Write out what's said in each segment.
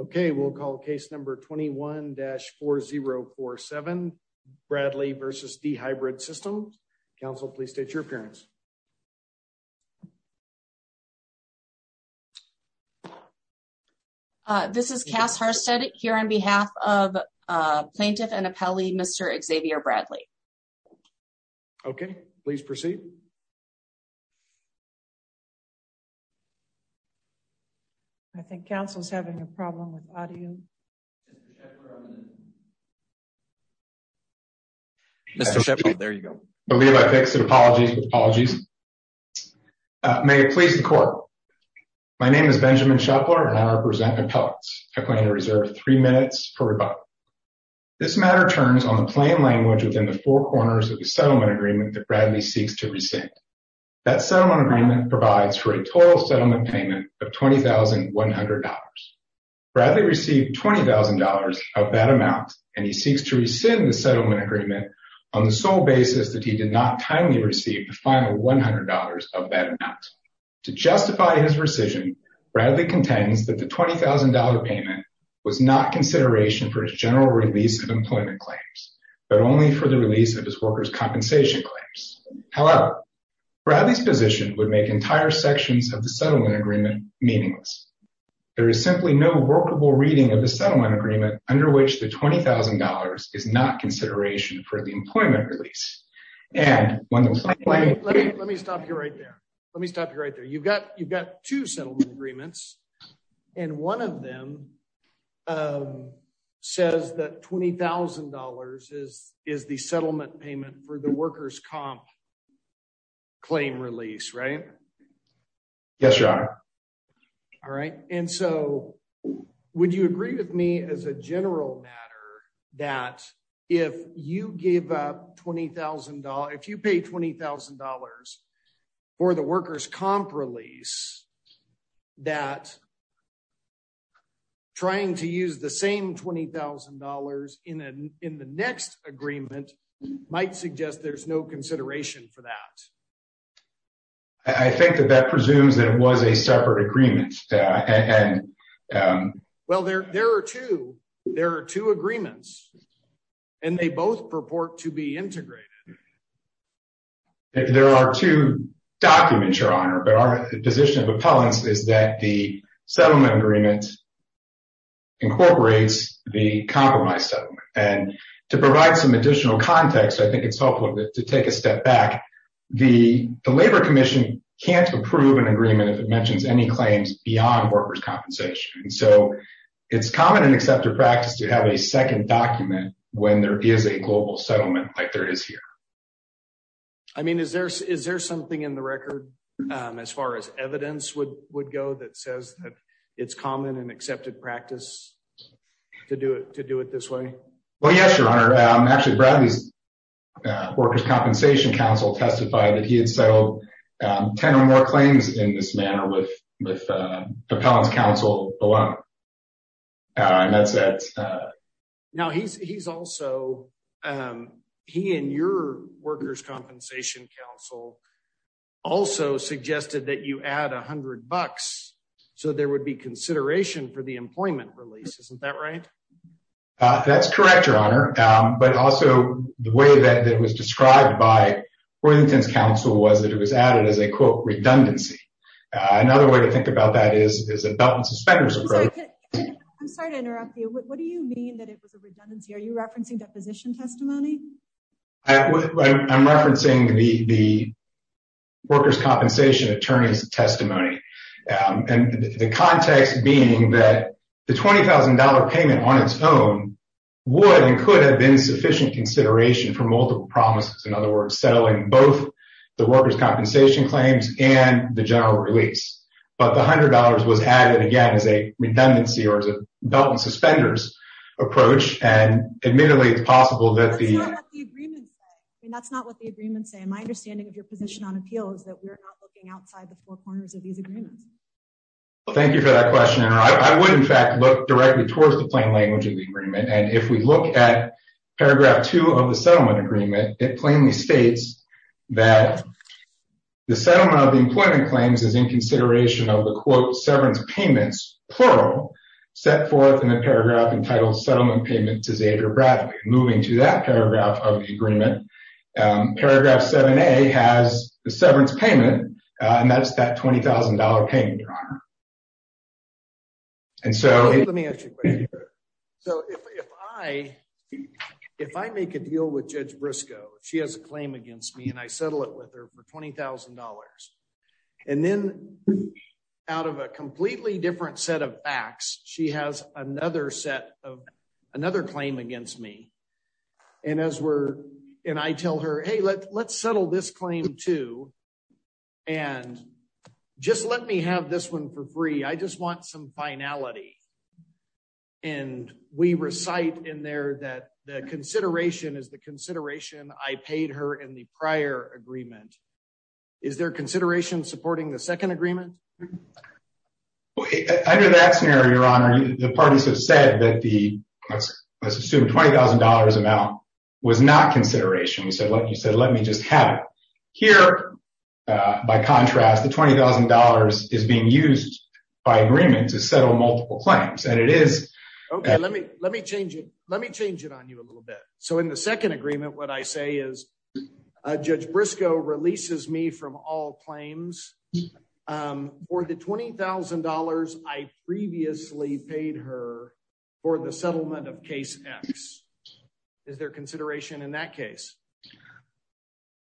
Okay, we'll call case number 21-4047, Bradley v. dHybrid Systems. Counsel, please state your appearance. This is Cass Harstad here on behalf of Plaintiff and Appellee Mr. Xavier Bradley. Okay, please proceed. I think counsel is having a problem with audio. Mr. Shepard, there you go. I believe I fixed it. Apologies. Apologies. May it please the court. My name is Benjamin Shepard and I represent appellates. I plan to reserve three minutes per rebuttal. This matter turns on the plain language within the four corners of the settlement agreement that Bradley seeks to rescind. That settlement agreement provides for a total settlement payment of $20,100. Bradley received $20,000 of that amount and he seeks to rescind the settlement agreement on the sole basis that he did not timely receive the final $100 of that amount. To justify his rescission, Bradley contends that the $20,000 payment was not consideration for his general release of employment claims, but only for the release of his workers' compensation claims. However, Bradley's position would make entire sections of the settlement agreement meaningless. There is simply no workable reading of the settlement agreement under which the $20,000 is not consideration for the employment release. Let me stop you right there. Let me stop you right there. You've got two settlement agreements, and one of them says that $20,000 is the settlement payment for the workers' comp claim release, right? Yes, Your Honor. All right. And so would you agree with me as a general matter that if you give up $20,000, if you pay $20,000 for the workers' comp release, that trying to use the same $20,000 in the next agreement might suggest there's no consideration for that? I think that that presumes that it was a separate agreement. Well, there are two. There are two agreements, and they both purport to be integrated. There are two documents, Your Honor, but our position of appellants is that the settlement agreement incorporates the compromise settlement. And to provide some additional context, I think it's helpful to take a step back. The Labor Commission can't approve an agreement if it mentions any claims beyond workers' compensation. And so it's common in accepted practice to have a second document when there is a global settlement like there is here. I mean, is there something in the record, as far as evidence would go, that says that it's common in accepted practice to do it this way? Well, yes, Your Honor. Actually, Bradley's workers' compensation counsel testified that he had settled 10 or more claims in this manner with appellants' counsel alone. Now, he's also, he and your workers' compensation counsel also suggested that you add $100 so there would be consideration for the employment release. Isn't that right? That's correct, Your Honor. But also, the way that it was described by Worthington's counsel was that it was added as a, quote, redundancy. Another way to think about that is a belt and suspenders approach. I'm sorry to interrupt you. What do you mean that it was a redundancy? Are you referencing deposition testimony? I'm referencing the workers' compensation attorney's testimony. And the context being that the $20,000 payment on its own would and could have been sufficient consideration for multiple promises. In other words, settling both the workers' compensation claims and the general release. But the $100 was added, again, as a redundancy or as a belt and suspenders approach. And admittedly, it's possible that the— That's not what the agreement says. That's not what the agreement says. My understanding of your position on appeal is that we're not looking outside the four corners of these agreements. Thank you for that question, Your Honor. I would, in fact, look directly towards the plain language of the agreement. And if we look at paragraph two of the settlement agreement, it plainly states that the settlement of the employment claims is in consideration of the, quote, severance payments, plural, set forth in the paragraph entitled Settlement Payments to Xavier Bradford. Moving to that paragraph of the agreement, paragraph 7A has the severance payment, and that's that $20,000 payment, Your Honor. And so— Let me ask you a question here. So if I make a deal with Judge Briscoe, she has a claim against me, and I settle it with her for $20,000. And then out of a completely different set of facts, she has another set of—another claim against me. And as we're—and I tell her, hey, let's settle this claim, too, and just let me have this one for free. I just want some finality. And we recite in there that the consideration is the consideration I paid her in the prior agreement. Is there consideration supporting the second agreement? Under that scenario, Your Honor, the parties have said that the—let's assume $20,000 amount was not consideration. You said, let me just have it. Here, by contrast, the $20,000 is being used by agreement to settle multiple claims. And it is— Okay, let me change it. Let me change it on you a little bit. So in the second agreement, what I say is, Judge Briscoe releases me from all claims for the $20,000 I previously paid her for the settlement of Case X. Is there consideration in that case?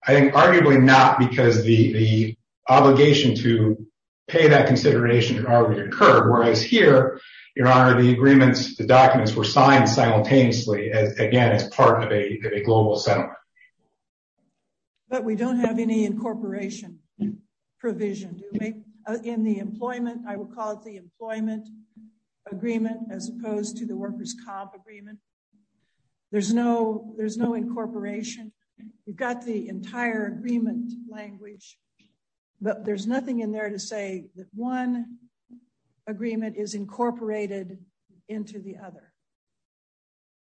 I think arguably not, because the obligation to pay that consideration already occurred. Whereas here, Your Honor, the agreements, the documents were signed simultaneously, again, as part of a global settlement. But we don't have any incorporation provision. In the employment—I would call it the employment agreement as opposed to the workers' comp agreement. There's no incorporation. We've got the entire agreement language. But there's nothing in there to say that one agreement is incorporated into the other.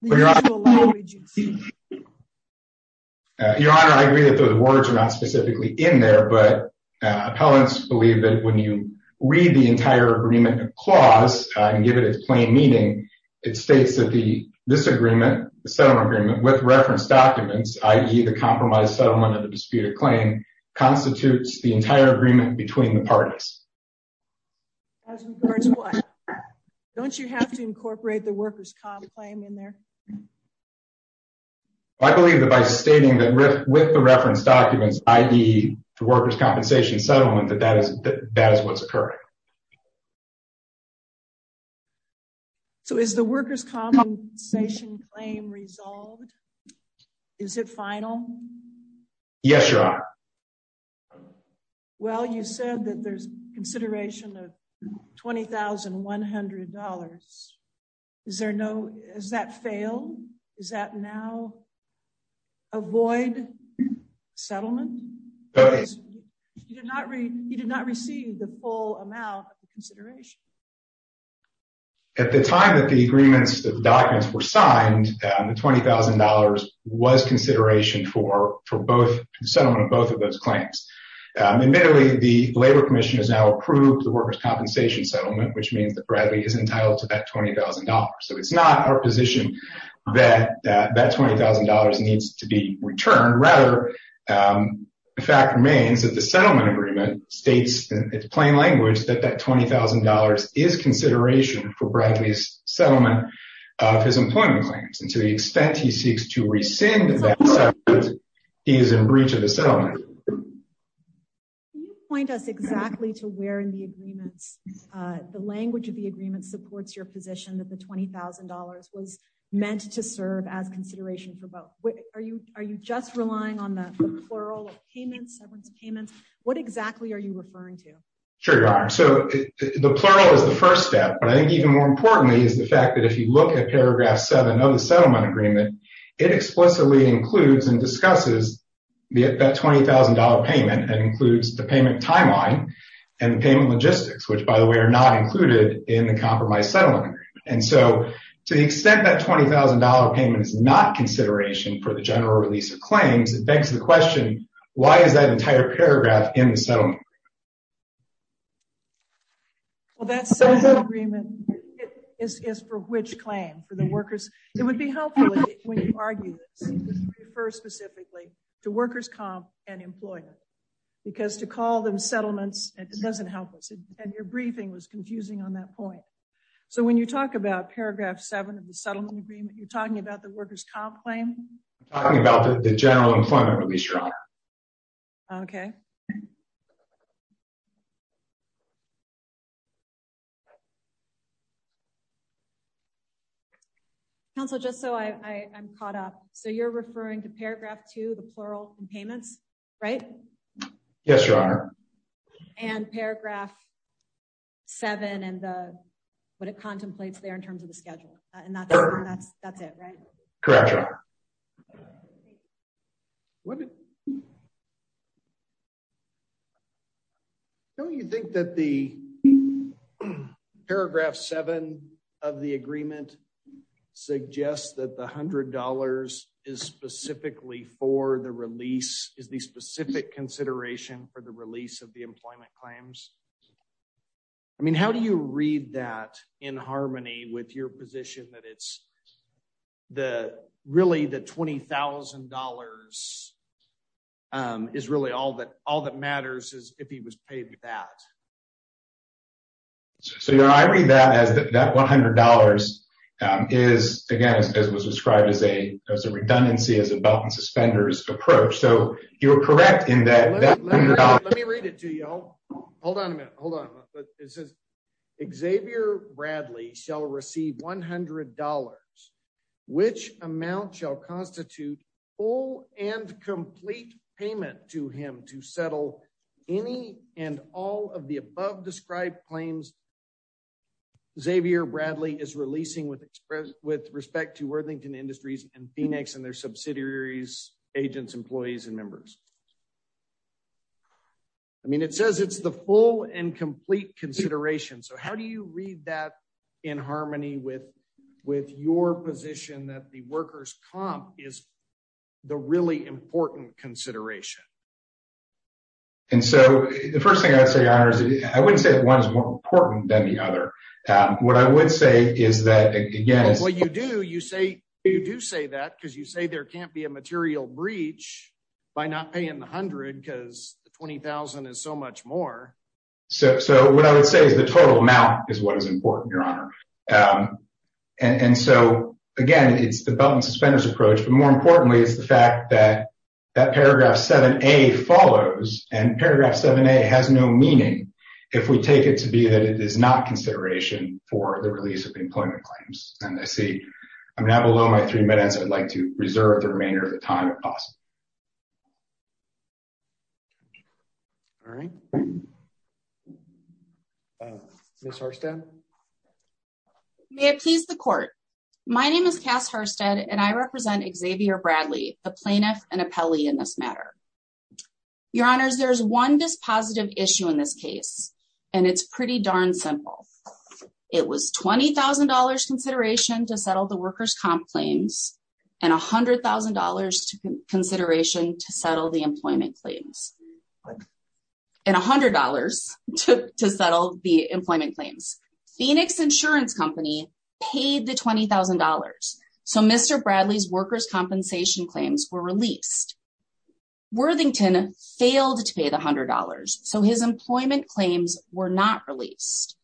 Your Honor, I agree that those words are not specifically in there, but appellants believe that when you read the entire agreement clause and give it its plain meaning, it states that this agreement, the settlement agreement, with reference documents, i.e., the compromised settlement of the disputed claim, constitutes the entire agreement between the parties. As regards what? Don't you have to incorporate the workers' comp claim in there? I believe that by stating that with the reference documents, i.e., the workers' compensation settlement, that that is what's occurring. So is the workers' compensation claim resolved? Is it final? Yes, Your Honor. Well, you said that there's consideration of $20,100. Is there no—has that failed? Does that now avoid settlement? You did not receive the full amount of the consideration. At the time that the agreements, the documents were signed, the $20,000 was consideration for settlement of both of those claims. Admittedly, the Labor Commission has now approved the workers' compensation settlement, which means that Bradley is entitled to that $20,000. So it's not our position that that $20,000 needs to be returned. Rather, the fact remains that the settlement agreement states in its plain language that that $20,000 is consideration for Bradley's settlement of his employment claims. And to the extent he seeks to rescind that settlement, he is in breach of the settlement. Can you point us exactly to where in the agreements, the language of the agreements supports your position that the $20,000 was meant to serve as consideration for both? Are you just relying on the plural of payments, settlement payments? What exactly are you referring to? Sure, Your Honor. So the plural is the first step, but I think even more importantly is the fact that if you look at paragraph 7 of the settlement agreement, it explicitly includes and discusses that $20,000 payment and includes the payment timeline and payment logistics, which, by the way, are not included in the compromised settlement agreement. And so to the extent that $20,000 payment is not consideration for the general release of claims, it begs the question, why is that entire paragraph in the settlement agreement? Well, that settlement agreement is for which claim? For the workers. It would be helpful when you argue this, to refer specifically to workers' comp and employment. Because to call them settlements, it doesn't help us. And your briefing was confusing on that point. So when you talk about paragraph 7 of the settlement agreement, you're talking about the workers' comp claim? I'm talking about the general employment release, Your Honor. Okay. Counsel, just so I'm caught up. So you're referring to paragraph 2, the plural payments, right? Yes, Your Honor. And paragraph 7 and what it contemplates there in terms of the schedule. And that's it, right? Correct, Your Honor. What? Don't you think that the paragraph 7 of the agreement suggests that the $100 is specifically for the release, is the specific consideration for the release of the employment claims? I mean, how do you read that in harmony with your position that it's really the $20,000 is really all that matters is if he was paid that? So, Your Honor, I read that as that $100 is, again, as it was described as a redundancy, as a belt and suspenders approach. So you're correct in that $100. Let me read it to you. Hold on a minute. Hold on. It says, Xavier Bradley shall receive $100, which amount shall constitute full and complete payment to him to settle any and all of the above described claims. Xavier Bradley is releasing with respect to Worthington Industries and Phoenix and their subsidiaries, agents, employees and members. I mean, it says it's the full and complete consideration. So how do you read that in harmony with your position that the workers comp is the really important consideration? And so the 1st thing I would say, I wouldn't say that 1 is more important than the other. What I would say is that, again, what you do, you say you do say that because you say there can't be a material breach by not paying the 100 because the 20,000 is so much more. So what I would say is the total amount is what is important, Your Honor. And so, again, it's the belt and suspenders approach. But more importantly, it's the fact that that paragraph 7A follows and paragraph 7A has no meaning if we take it to be that it is not consideration for the release of employment claims. And I see I'm not below my 3 minutes. I'd like to reserve the remainder of the time. All right. Mr. May it please the court. My name is Cass Hurstead and I represent Xavier Bradley, a plaintiff and appellee in this matter. Your Honors, there's one dispositive issue in this case, and it's pretty darn simple. It was $20,000 consideration to settle the workers comp claims and $100,000 to consideration to settle the employment claims. And $100 to settle the employment claims. Phoenix Insurance Company paid the $20,000. So Mr. Bradley's workers compensation claims were released. Worthington failed to pay the $100. So his employment claims were not released.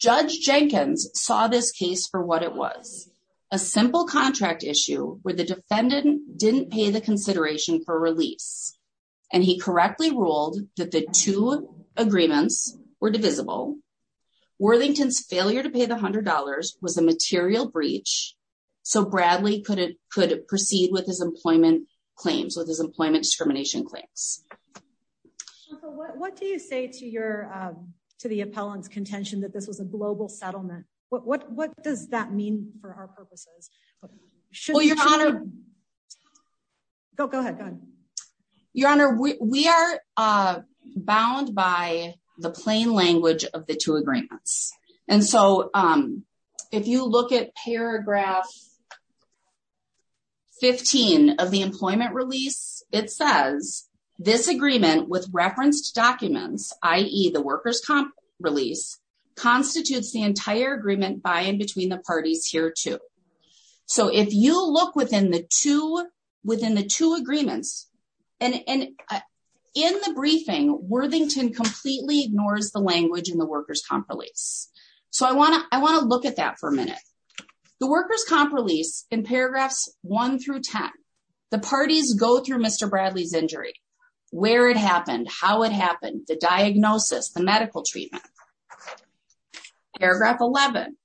Judge Jenkins saw this case for what it was a simple contract issue where the defendant didn't pay the consideration for release. And he correctly ruled that the two agreements were divisible Worthington's failure to pay the $100 was a material breach. So Bradley could it could proceed with his employment claims with his employment discrimination claims. What do you say to your to the appellant's contention that this was a global settlement. What does that mean for our purposes. Go ahead. Your Honor, we are bound by the plain language of the two agreements. And so, if you look at paragraph 15 of the employment release, it says this agreement with referenced documents, i.e. the workers comp release constitutes the entire agreement by in between the parties here to. So if you look within the two within the two agreements, and in the briefing Worthington completely ignores the language in the workers comp release. So I want to I want to look at that for a minute. The workers comp release in paragraphs, one through 10. The parties go through Mr. Bradley's injury, where it happened how it happened the diagnosis the medical treatment paragraph 11.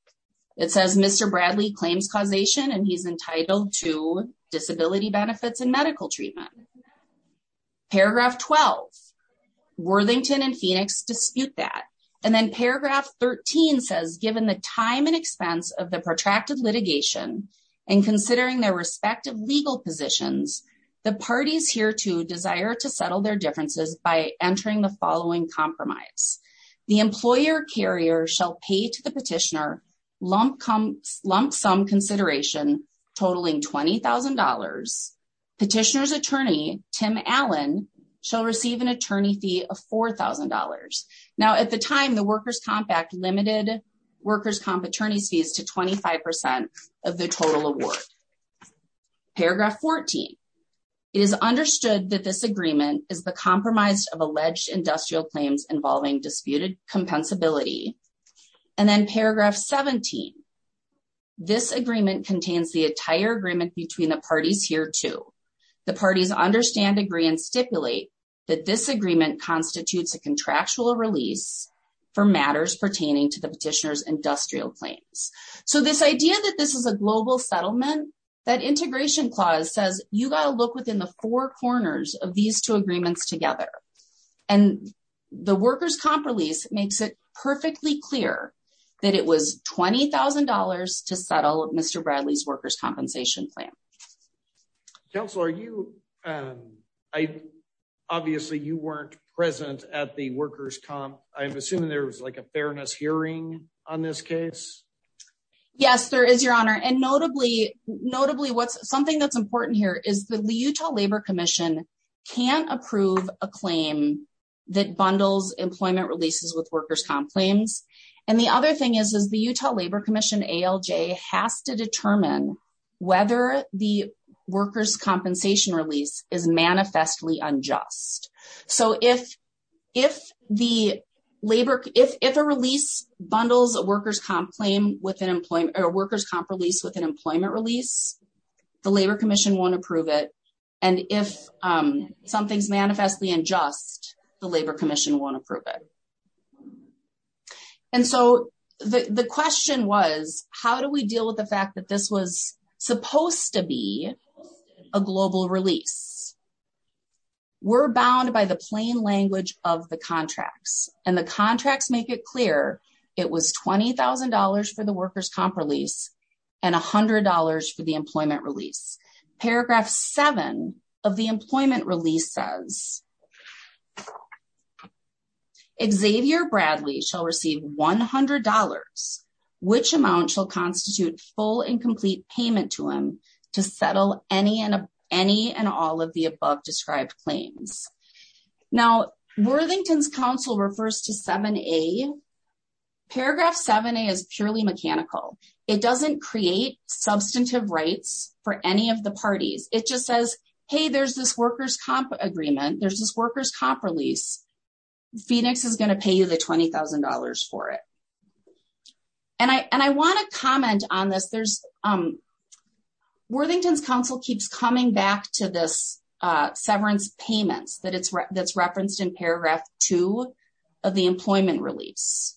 It says Mr. Bradley claims causation and he's entitled to disability benefits and medical treatment paragraph 12 Worthington and Phoenix dispute that. And then paragraph 13 says given the time and expense of the protracted litigation and considering their respective legal positions, the parties here to desire to settle their differences by entering the following compromise. The employer carrier shall pay to the petitioner lump sum consideration totaling $20,000. Petitioners attorney, Tim Allen, shall receive an attorney fee of $4,000. Now at the time the workers compact limited workers comp attorneys fees to 25% of the total award. Paragraph 14 is understood that this agreement is the compromise of alleged industrial claims involving disputed compensability. And then paragraph 17 this agreement contains the entire agreement between the parties here to the parties understand agree and stipulate that this agreement constitutes a contractual release for matters pertaining to the petitioners industrial claims. So this idea that this is a global settlement that integration clause says you got to look within the four corners of these two agreements together. And the workers comp release makes it perfectly clear that it was $20,000 to settle Mr. Bradley's workers compensation plan. Council are you. I obviously you weren't present at the workers comp, I'm assuming there was like a fairness hearing on this case. Yes, there is your honor and notably, notably what's something that's important here is the Utah Labor Commission can approve a claim that bundles employment releases with workers comp claims. And the other thing is, is the Utah Labor Commission ALJ has to determine whether the workers compensation release is manifestly unjust. So if, if the labor, if a release bundles a workers comp claim with an employment or workers comp release with an employment release, the Labor Commission won't approve it. And if something's manifestly unjust, the Labor Commission won't approve it. And so the question was, how do we deal with the fact that this was supposed to be a global release. We're bound by the plain language of the contracts and the contracts make it clear, it was $20,000 for the workers comp release and $100 for the employment release paragraph seven of the employment releases. It says, Xavier Bradley shall receive $100, which amount shall constitute full and complete payment to him to settle any and any and all of the above described claims. Now, Worthington's Council refers to 7A. Paragraph 7A is purely mechanical. It doesn't create substantive rights for any of the parties, it just says, hey, there's this workers comp agreement, there's this workers comp release, Phoenix is going to pay you the $20,000 for it. And I want to comment on this, Worthington's Council keeps coming back to this severance payments that's referenced in paragraph two of the employment release.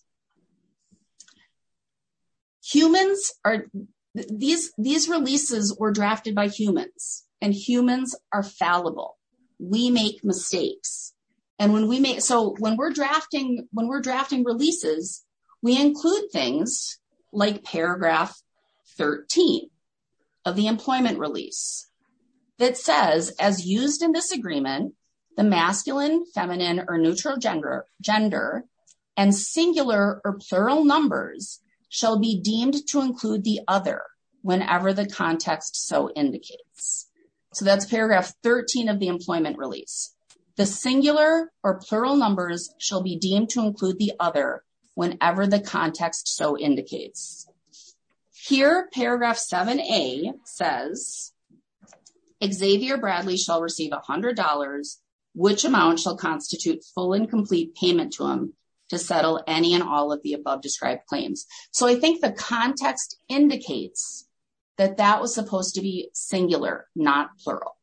These releases were drafted by humans, and humans are fallible. We make mistakes. So when we're drafting releases, we include things like paragraph 13 of the employment release that says, as used in this agreement, the masculine, feminine, or neutral gender and singular or plural numbers shall be deemed to include the other whenever the context so indicates. So that's paragraph 13 of the employment release. The singular or plural numbers shall be deemed to include the other whenever the context so indicates. Here, paragraph 7A says, Xavier Bradley shall receive $100, which amount shall constitute full and complete payment to him to settle any and all of the above described claims. So I think the context indicates that that was supposed to be singular, not plural.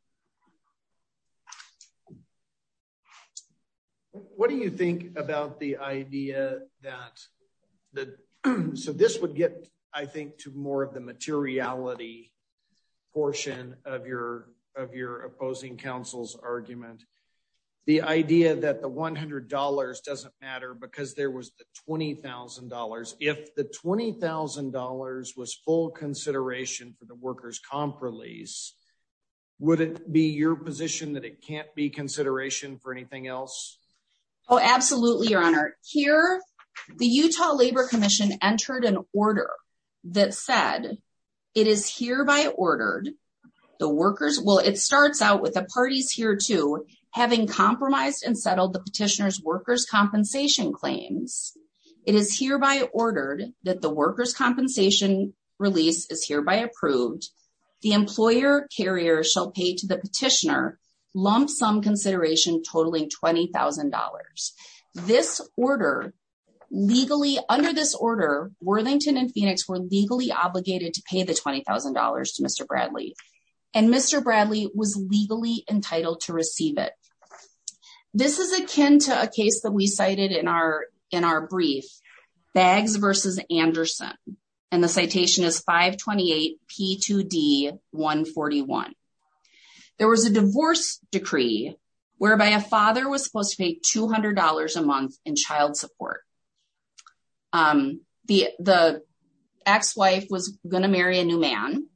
What do you think about the idea that the, so this would get, I think, to more of the materiality portion of your, of your opposing councils argument, the idea that the $100 doesn't matter because there was the $20,000 if the $20,000 was full consideration for the workers comp release. Would it be your position that it can't be consideration for anything else? Oh, absolutely, Your Honor. Here, the Utah Labor Commission entered an order that said, It is hereby ordered the workers will, it starts out with the parties here to having compromised and settled the petitioner's workers compensation claims. It is hereby ordered that the workers compensation release is hereby approved. The employer carrier shall pay to the petitioner lump sum consideration totaling $20,000. This order legally under this order Worthington and Phoenix were legally obligated to pay the $20,000 to Mr. Bradley and Mr. Bradley was legally entitled to receive it. This is akin to a case that we cited in our, in our brief bags versus Anderson, and the citation is 528 P2D 141. There was a divorce decree, whereby a father was supposed to pay $200 a month in child support. The, the ex-wife was going to marry a new man.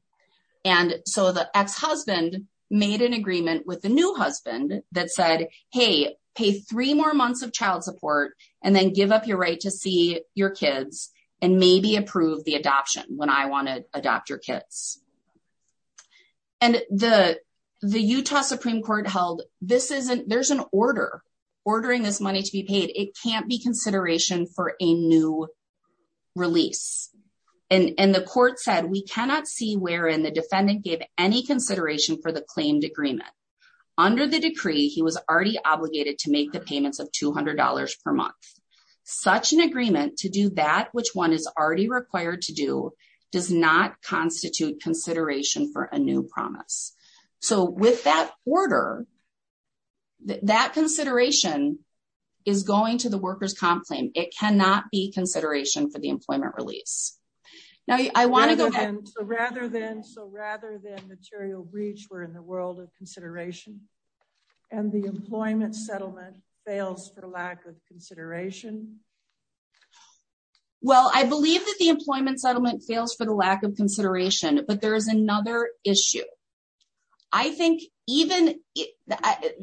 And so the ex-husband made an agreement with the new husband that said, hey, pay three more months of child support, and then give up your right to see your kids, and maybe approve the adoption when I want to adopt your kids. And the, the Utah Supreme Court held, this isn't there's an order, ordering this money to be paid, it can't be consideration for a new release. And the court said we cannot see where in the defendant gave any consideration for the claimed agreement. Under the decree, he was already obligated to make the payments of $200 per month. Such an agreement to do that, which one is already required to do, does not constitute consideration for a new promise. So with that order, that consideration is going to the workers comp claim, it cannot be consideration for the employment release. Rather than, so rather than material breach, we're in the world of consideration. And the employment settlement fails for the lack of consideration. Well, I believe that the employment settlement fails for the lack of consideration, but there is another issue. I think, even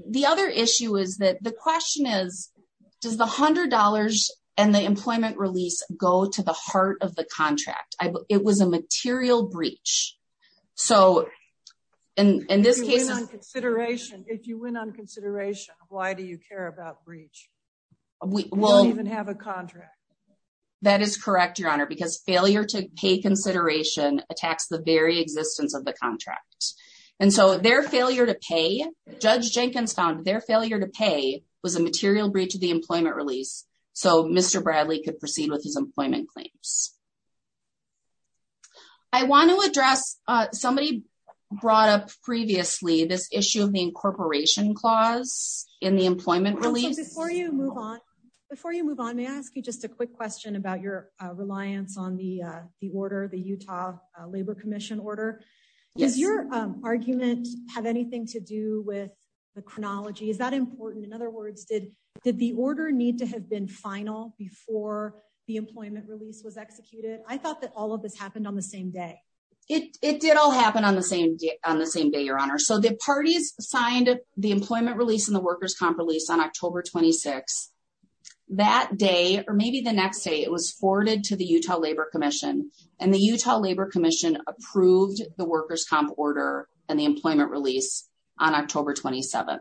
the other issue is that the question is, does the hundred dollars, and the employment release, go to the heart of the contract, it was a material breach. So, and in this case consideration, if you went on consideration, why do you care about breach. We will even have a contract. That is correct, Your Honor, because failure to pay consideration attacks the very existence of the contract. And so their failure to pay judge Jenkins found their failure to pay was a material breach of the employment release. So Mr. Bradley could proceed with his employment claims. I want to address somebody brought up previously this issue of the incorporation clause in the employment release before you move on. Before you move on, may I ask you just a quick question about your reliance on the, the order the Utah Labor Commission order. Yes, your argument, have anything to do with the chronology is that important in other words did, did the order need to have been final before the employment release was executed, I thought that all of this happened on the same day. It did all happen on the same day on the same day your honor so the parties signed the employment release and the workers comp release on October 26. That day, or maybe the next day it was forwarded to the Utah Labor Commission, and the Utah Labor Commission approved the workers comp order, and the employment release on October 27.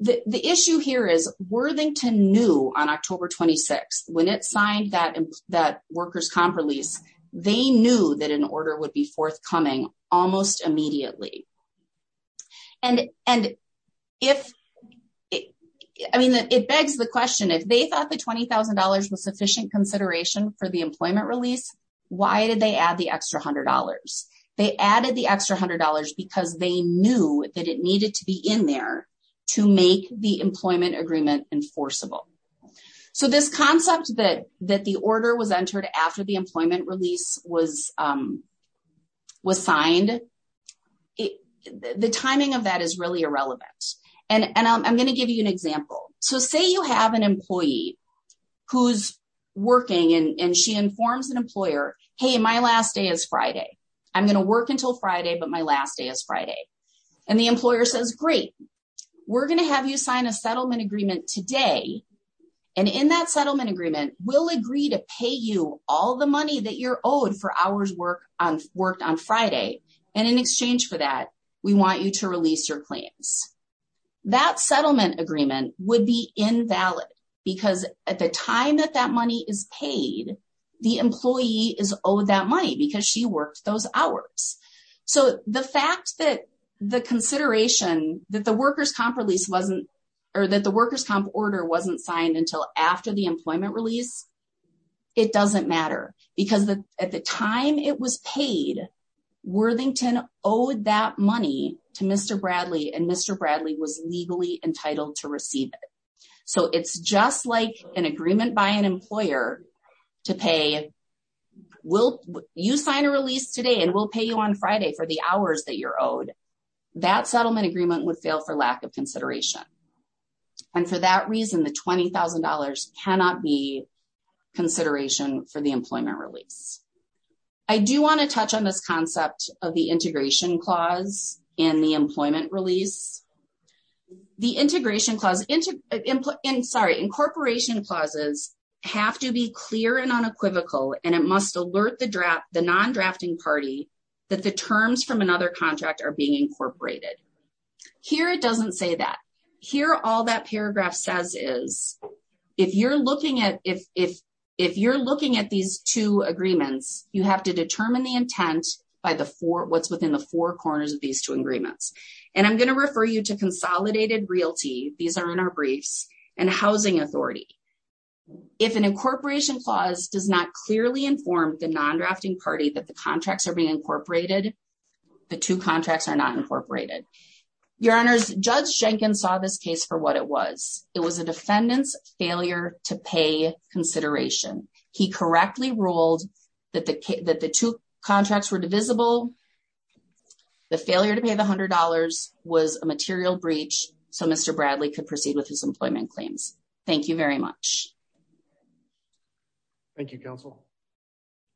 The issue here is Worthington knew on October 26 when it signed that that workers comp release, they knew that an order would be forthcoming, almost immediately. And, and if it, I mean it begs the question if they thought the $20,000 was sufficient consideration for the employment release. Why did they add the extra $100, they added the extra $100 because they knew that it needed to be in there to make the employment agreement enforceable. So this concept that that the order was entered after the employment release was was signed. The timing of that is really irrelevant. And I'm going to give you an example. So say you have an employee who's working and she informs an employer, hey my last day is Friday. I'm going to work until Friday but my last day is Friday, and the employer says great. We're going to have you sign a settlement agreement today. And in that settlement agreement will agree to pay you all the money that you're owed for hours work on worked on Friday. And in exchange for that, we want you to release your claims that settlement agreement would be invalid, because at the time that that money is paid. The employee is owed that money because she worked those hours. So, the fact that the consideration that the workers comp release wasn't or that the workers comp order wasn't signed until after the employment release. It doesn't matter, because at the time it was paid Worthington owed that money to Mr. Bradley and Mr. Bradley was legally entitled to receive it. So it's just like an agreement by an employer to pay will you sign a release today and we'll pay you on Friday for the hours that you're owed that settlement agreement would fail for lack of consideration. And for that reason the $20,000 cannot be consideration for the employment release. I do want to touch on this concept of the integration clause in the employment release. The integration clause into input in sorry incorporation clauses have to be clear and unequivocal, and it must alert the draft the non drafting party that the terms from another contract are being incorporated. Here, it doesn't say that here all that paragraph says is, if you're looking at if, if, if you're looking at these two agreements, you have to determine the intent by the four what's within the four corners of these two agreements. And I'm going to refer you to consolidated realty. These are in our briefs and housing authority. If an incorporation clause does not clearly inform the non drafting party that the contracts are being incorporated. The two contracts are not incorporated. Your Honor's judge Jenkins saw this case for what it was, it was a defendant's failure to pay consideration, he correctly ruled that the that the two contracts were divisible. The failure to pay the $100 was a material breach. So Mr. Bradley could proceed with his employment claims. Thank you very much. Thank you, counsel.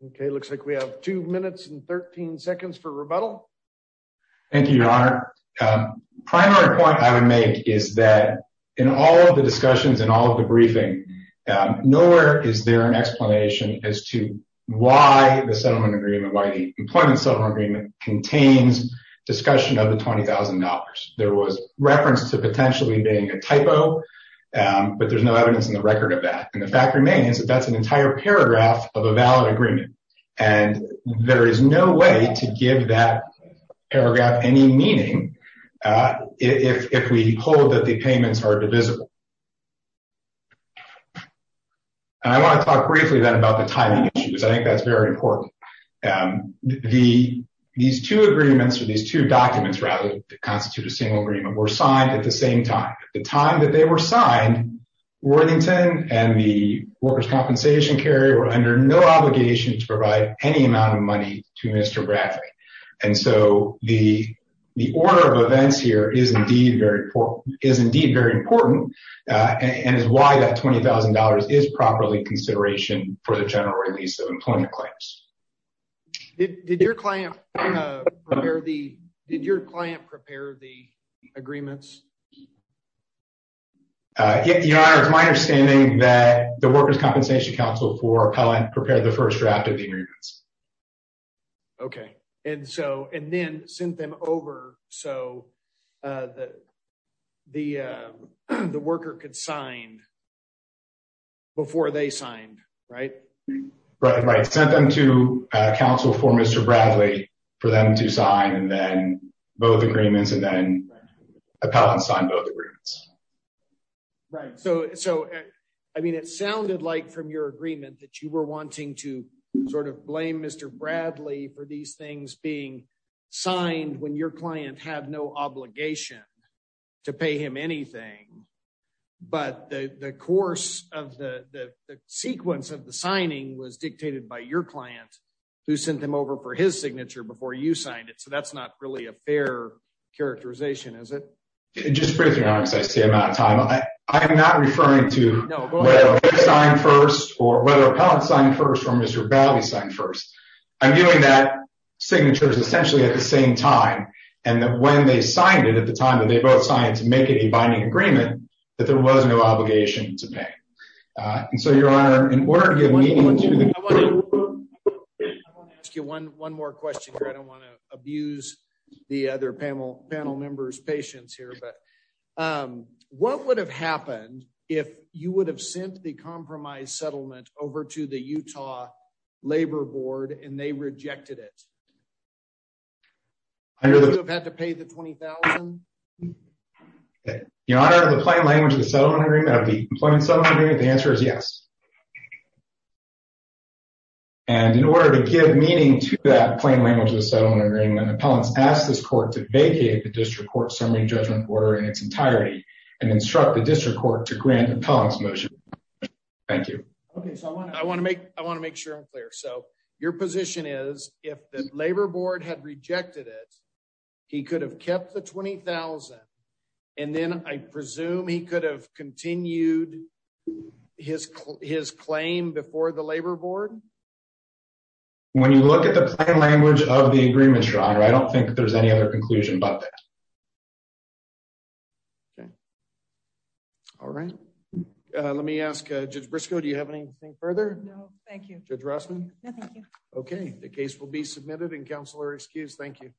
Okay, looks like we have two minutes and 13 seconds for rebuttal. Thank you, Your Honor. Primary point I would make is that in all of the discussions and all of the briefing. Nowhere is there an explanation as to why the settlement agreement by the employment settlement agreement contains discussion of the $20,000, there was reference to potentially being a typo. But there's no evidence in the record of that. And the fact remains that that's an entire paragraph of a valid agreement. And there is no way to give that paragraph any meaning. If we hold that the payments are divisible. I want to talk briefly then about the timing issues. I think that's very important. The these two agreements are these two documents rather constitute a single agreement were signed at the same time, the time that they were signed, Worthington and the workers compensation carrier were under no obligation to provide any amount of money to Mr. Bradley. And so the, the order of events here is indeed very poor is indeed very important. And is why that $20,000 is properly consideration for the general release of employment claims. Did your client prepare the did your client prepare the agreements. If you are my understanding that the workers compensation counsel for appellant prepare the first draft of the agreements. Okay. And so, and then send them over. So, the, the, the worker could sign. Before they signed. Right. Right. Right. Send them to counsel for Mr. Bradley for them to sign and then both agreements and then a pound sign both agreements. Right. So, so, I mean it sounded like from your agreement that you were wanting to sort of blame Mr. Bradley for these things being signed when your client have no obligation to pay him anything. But the course of the sequence of the signing was dictated by your client who sent them over for his signature before you signed it so that's not really a fair characterization is it. Just briefly as I say I'm out of time. I am not referring to sign first or whether a pound sign first from Mr. Bally sign first, I'm doing that signatures essentially at the same time, and that when they signed it at the time that they both science make it a binding agreement that there was no obligation to pay. So your honor in order to get one more question I don't want to abuse the other panel panel members patients here but what would have happened if you would have sent the compromise settlement over to the Utah labor board and they rejected it. I really have had to pay the 20,000. You know, the plain language of the settlement agreement of the employment summary. The answer is yes. And in order to give meaning to that plain language of the settlement agreement appellants asked this court to vacate the district court summary judgment order in its entirety, and instruct the district court to grant appellants motion. Thank you. Okay, so I want to make, I want to make sure I'm clear so your position is, if the labor board had rejected it. He could have kept the 20,000. And then I presume he could have continued his, his claim before the labor board. When you look at the language of the agreement. I don't think there's any other conclusion but Okay. All right. Let me ask just Briscoe Do you have anything further. No, thank you. Okay, the case will be submitted and counselor excuse Thank you.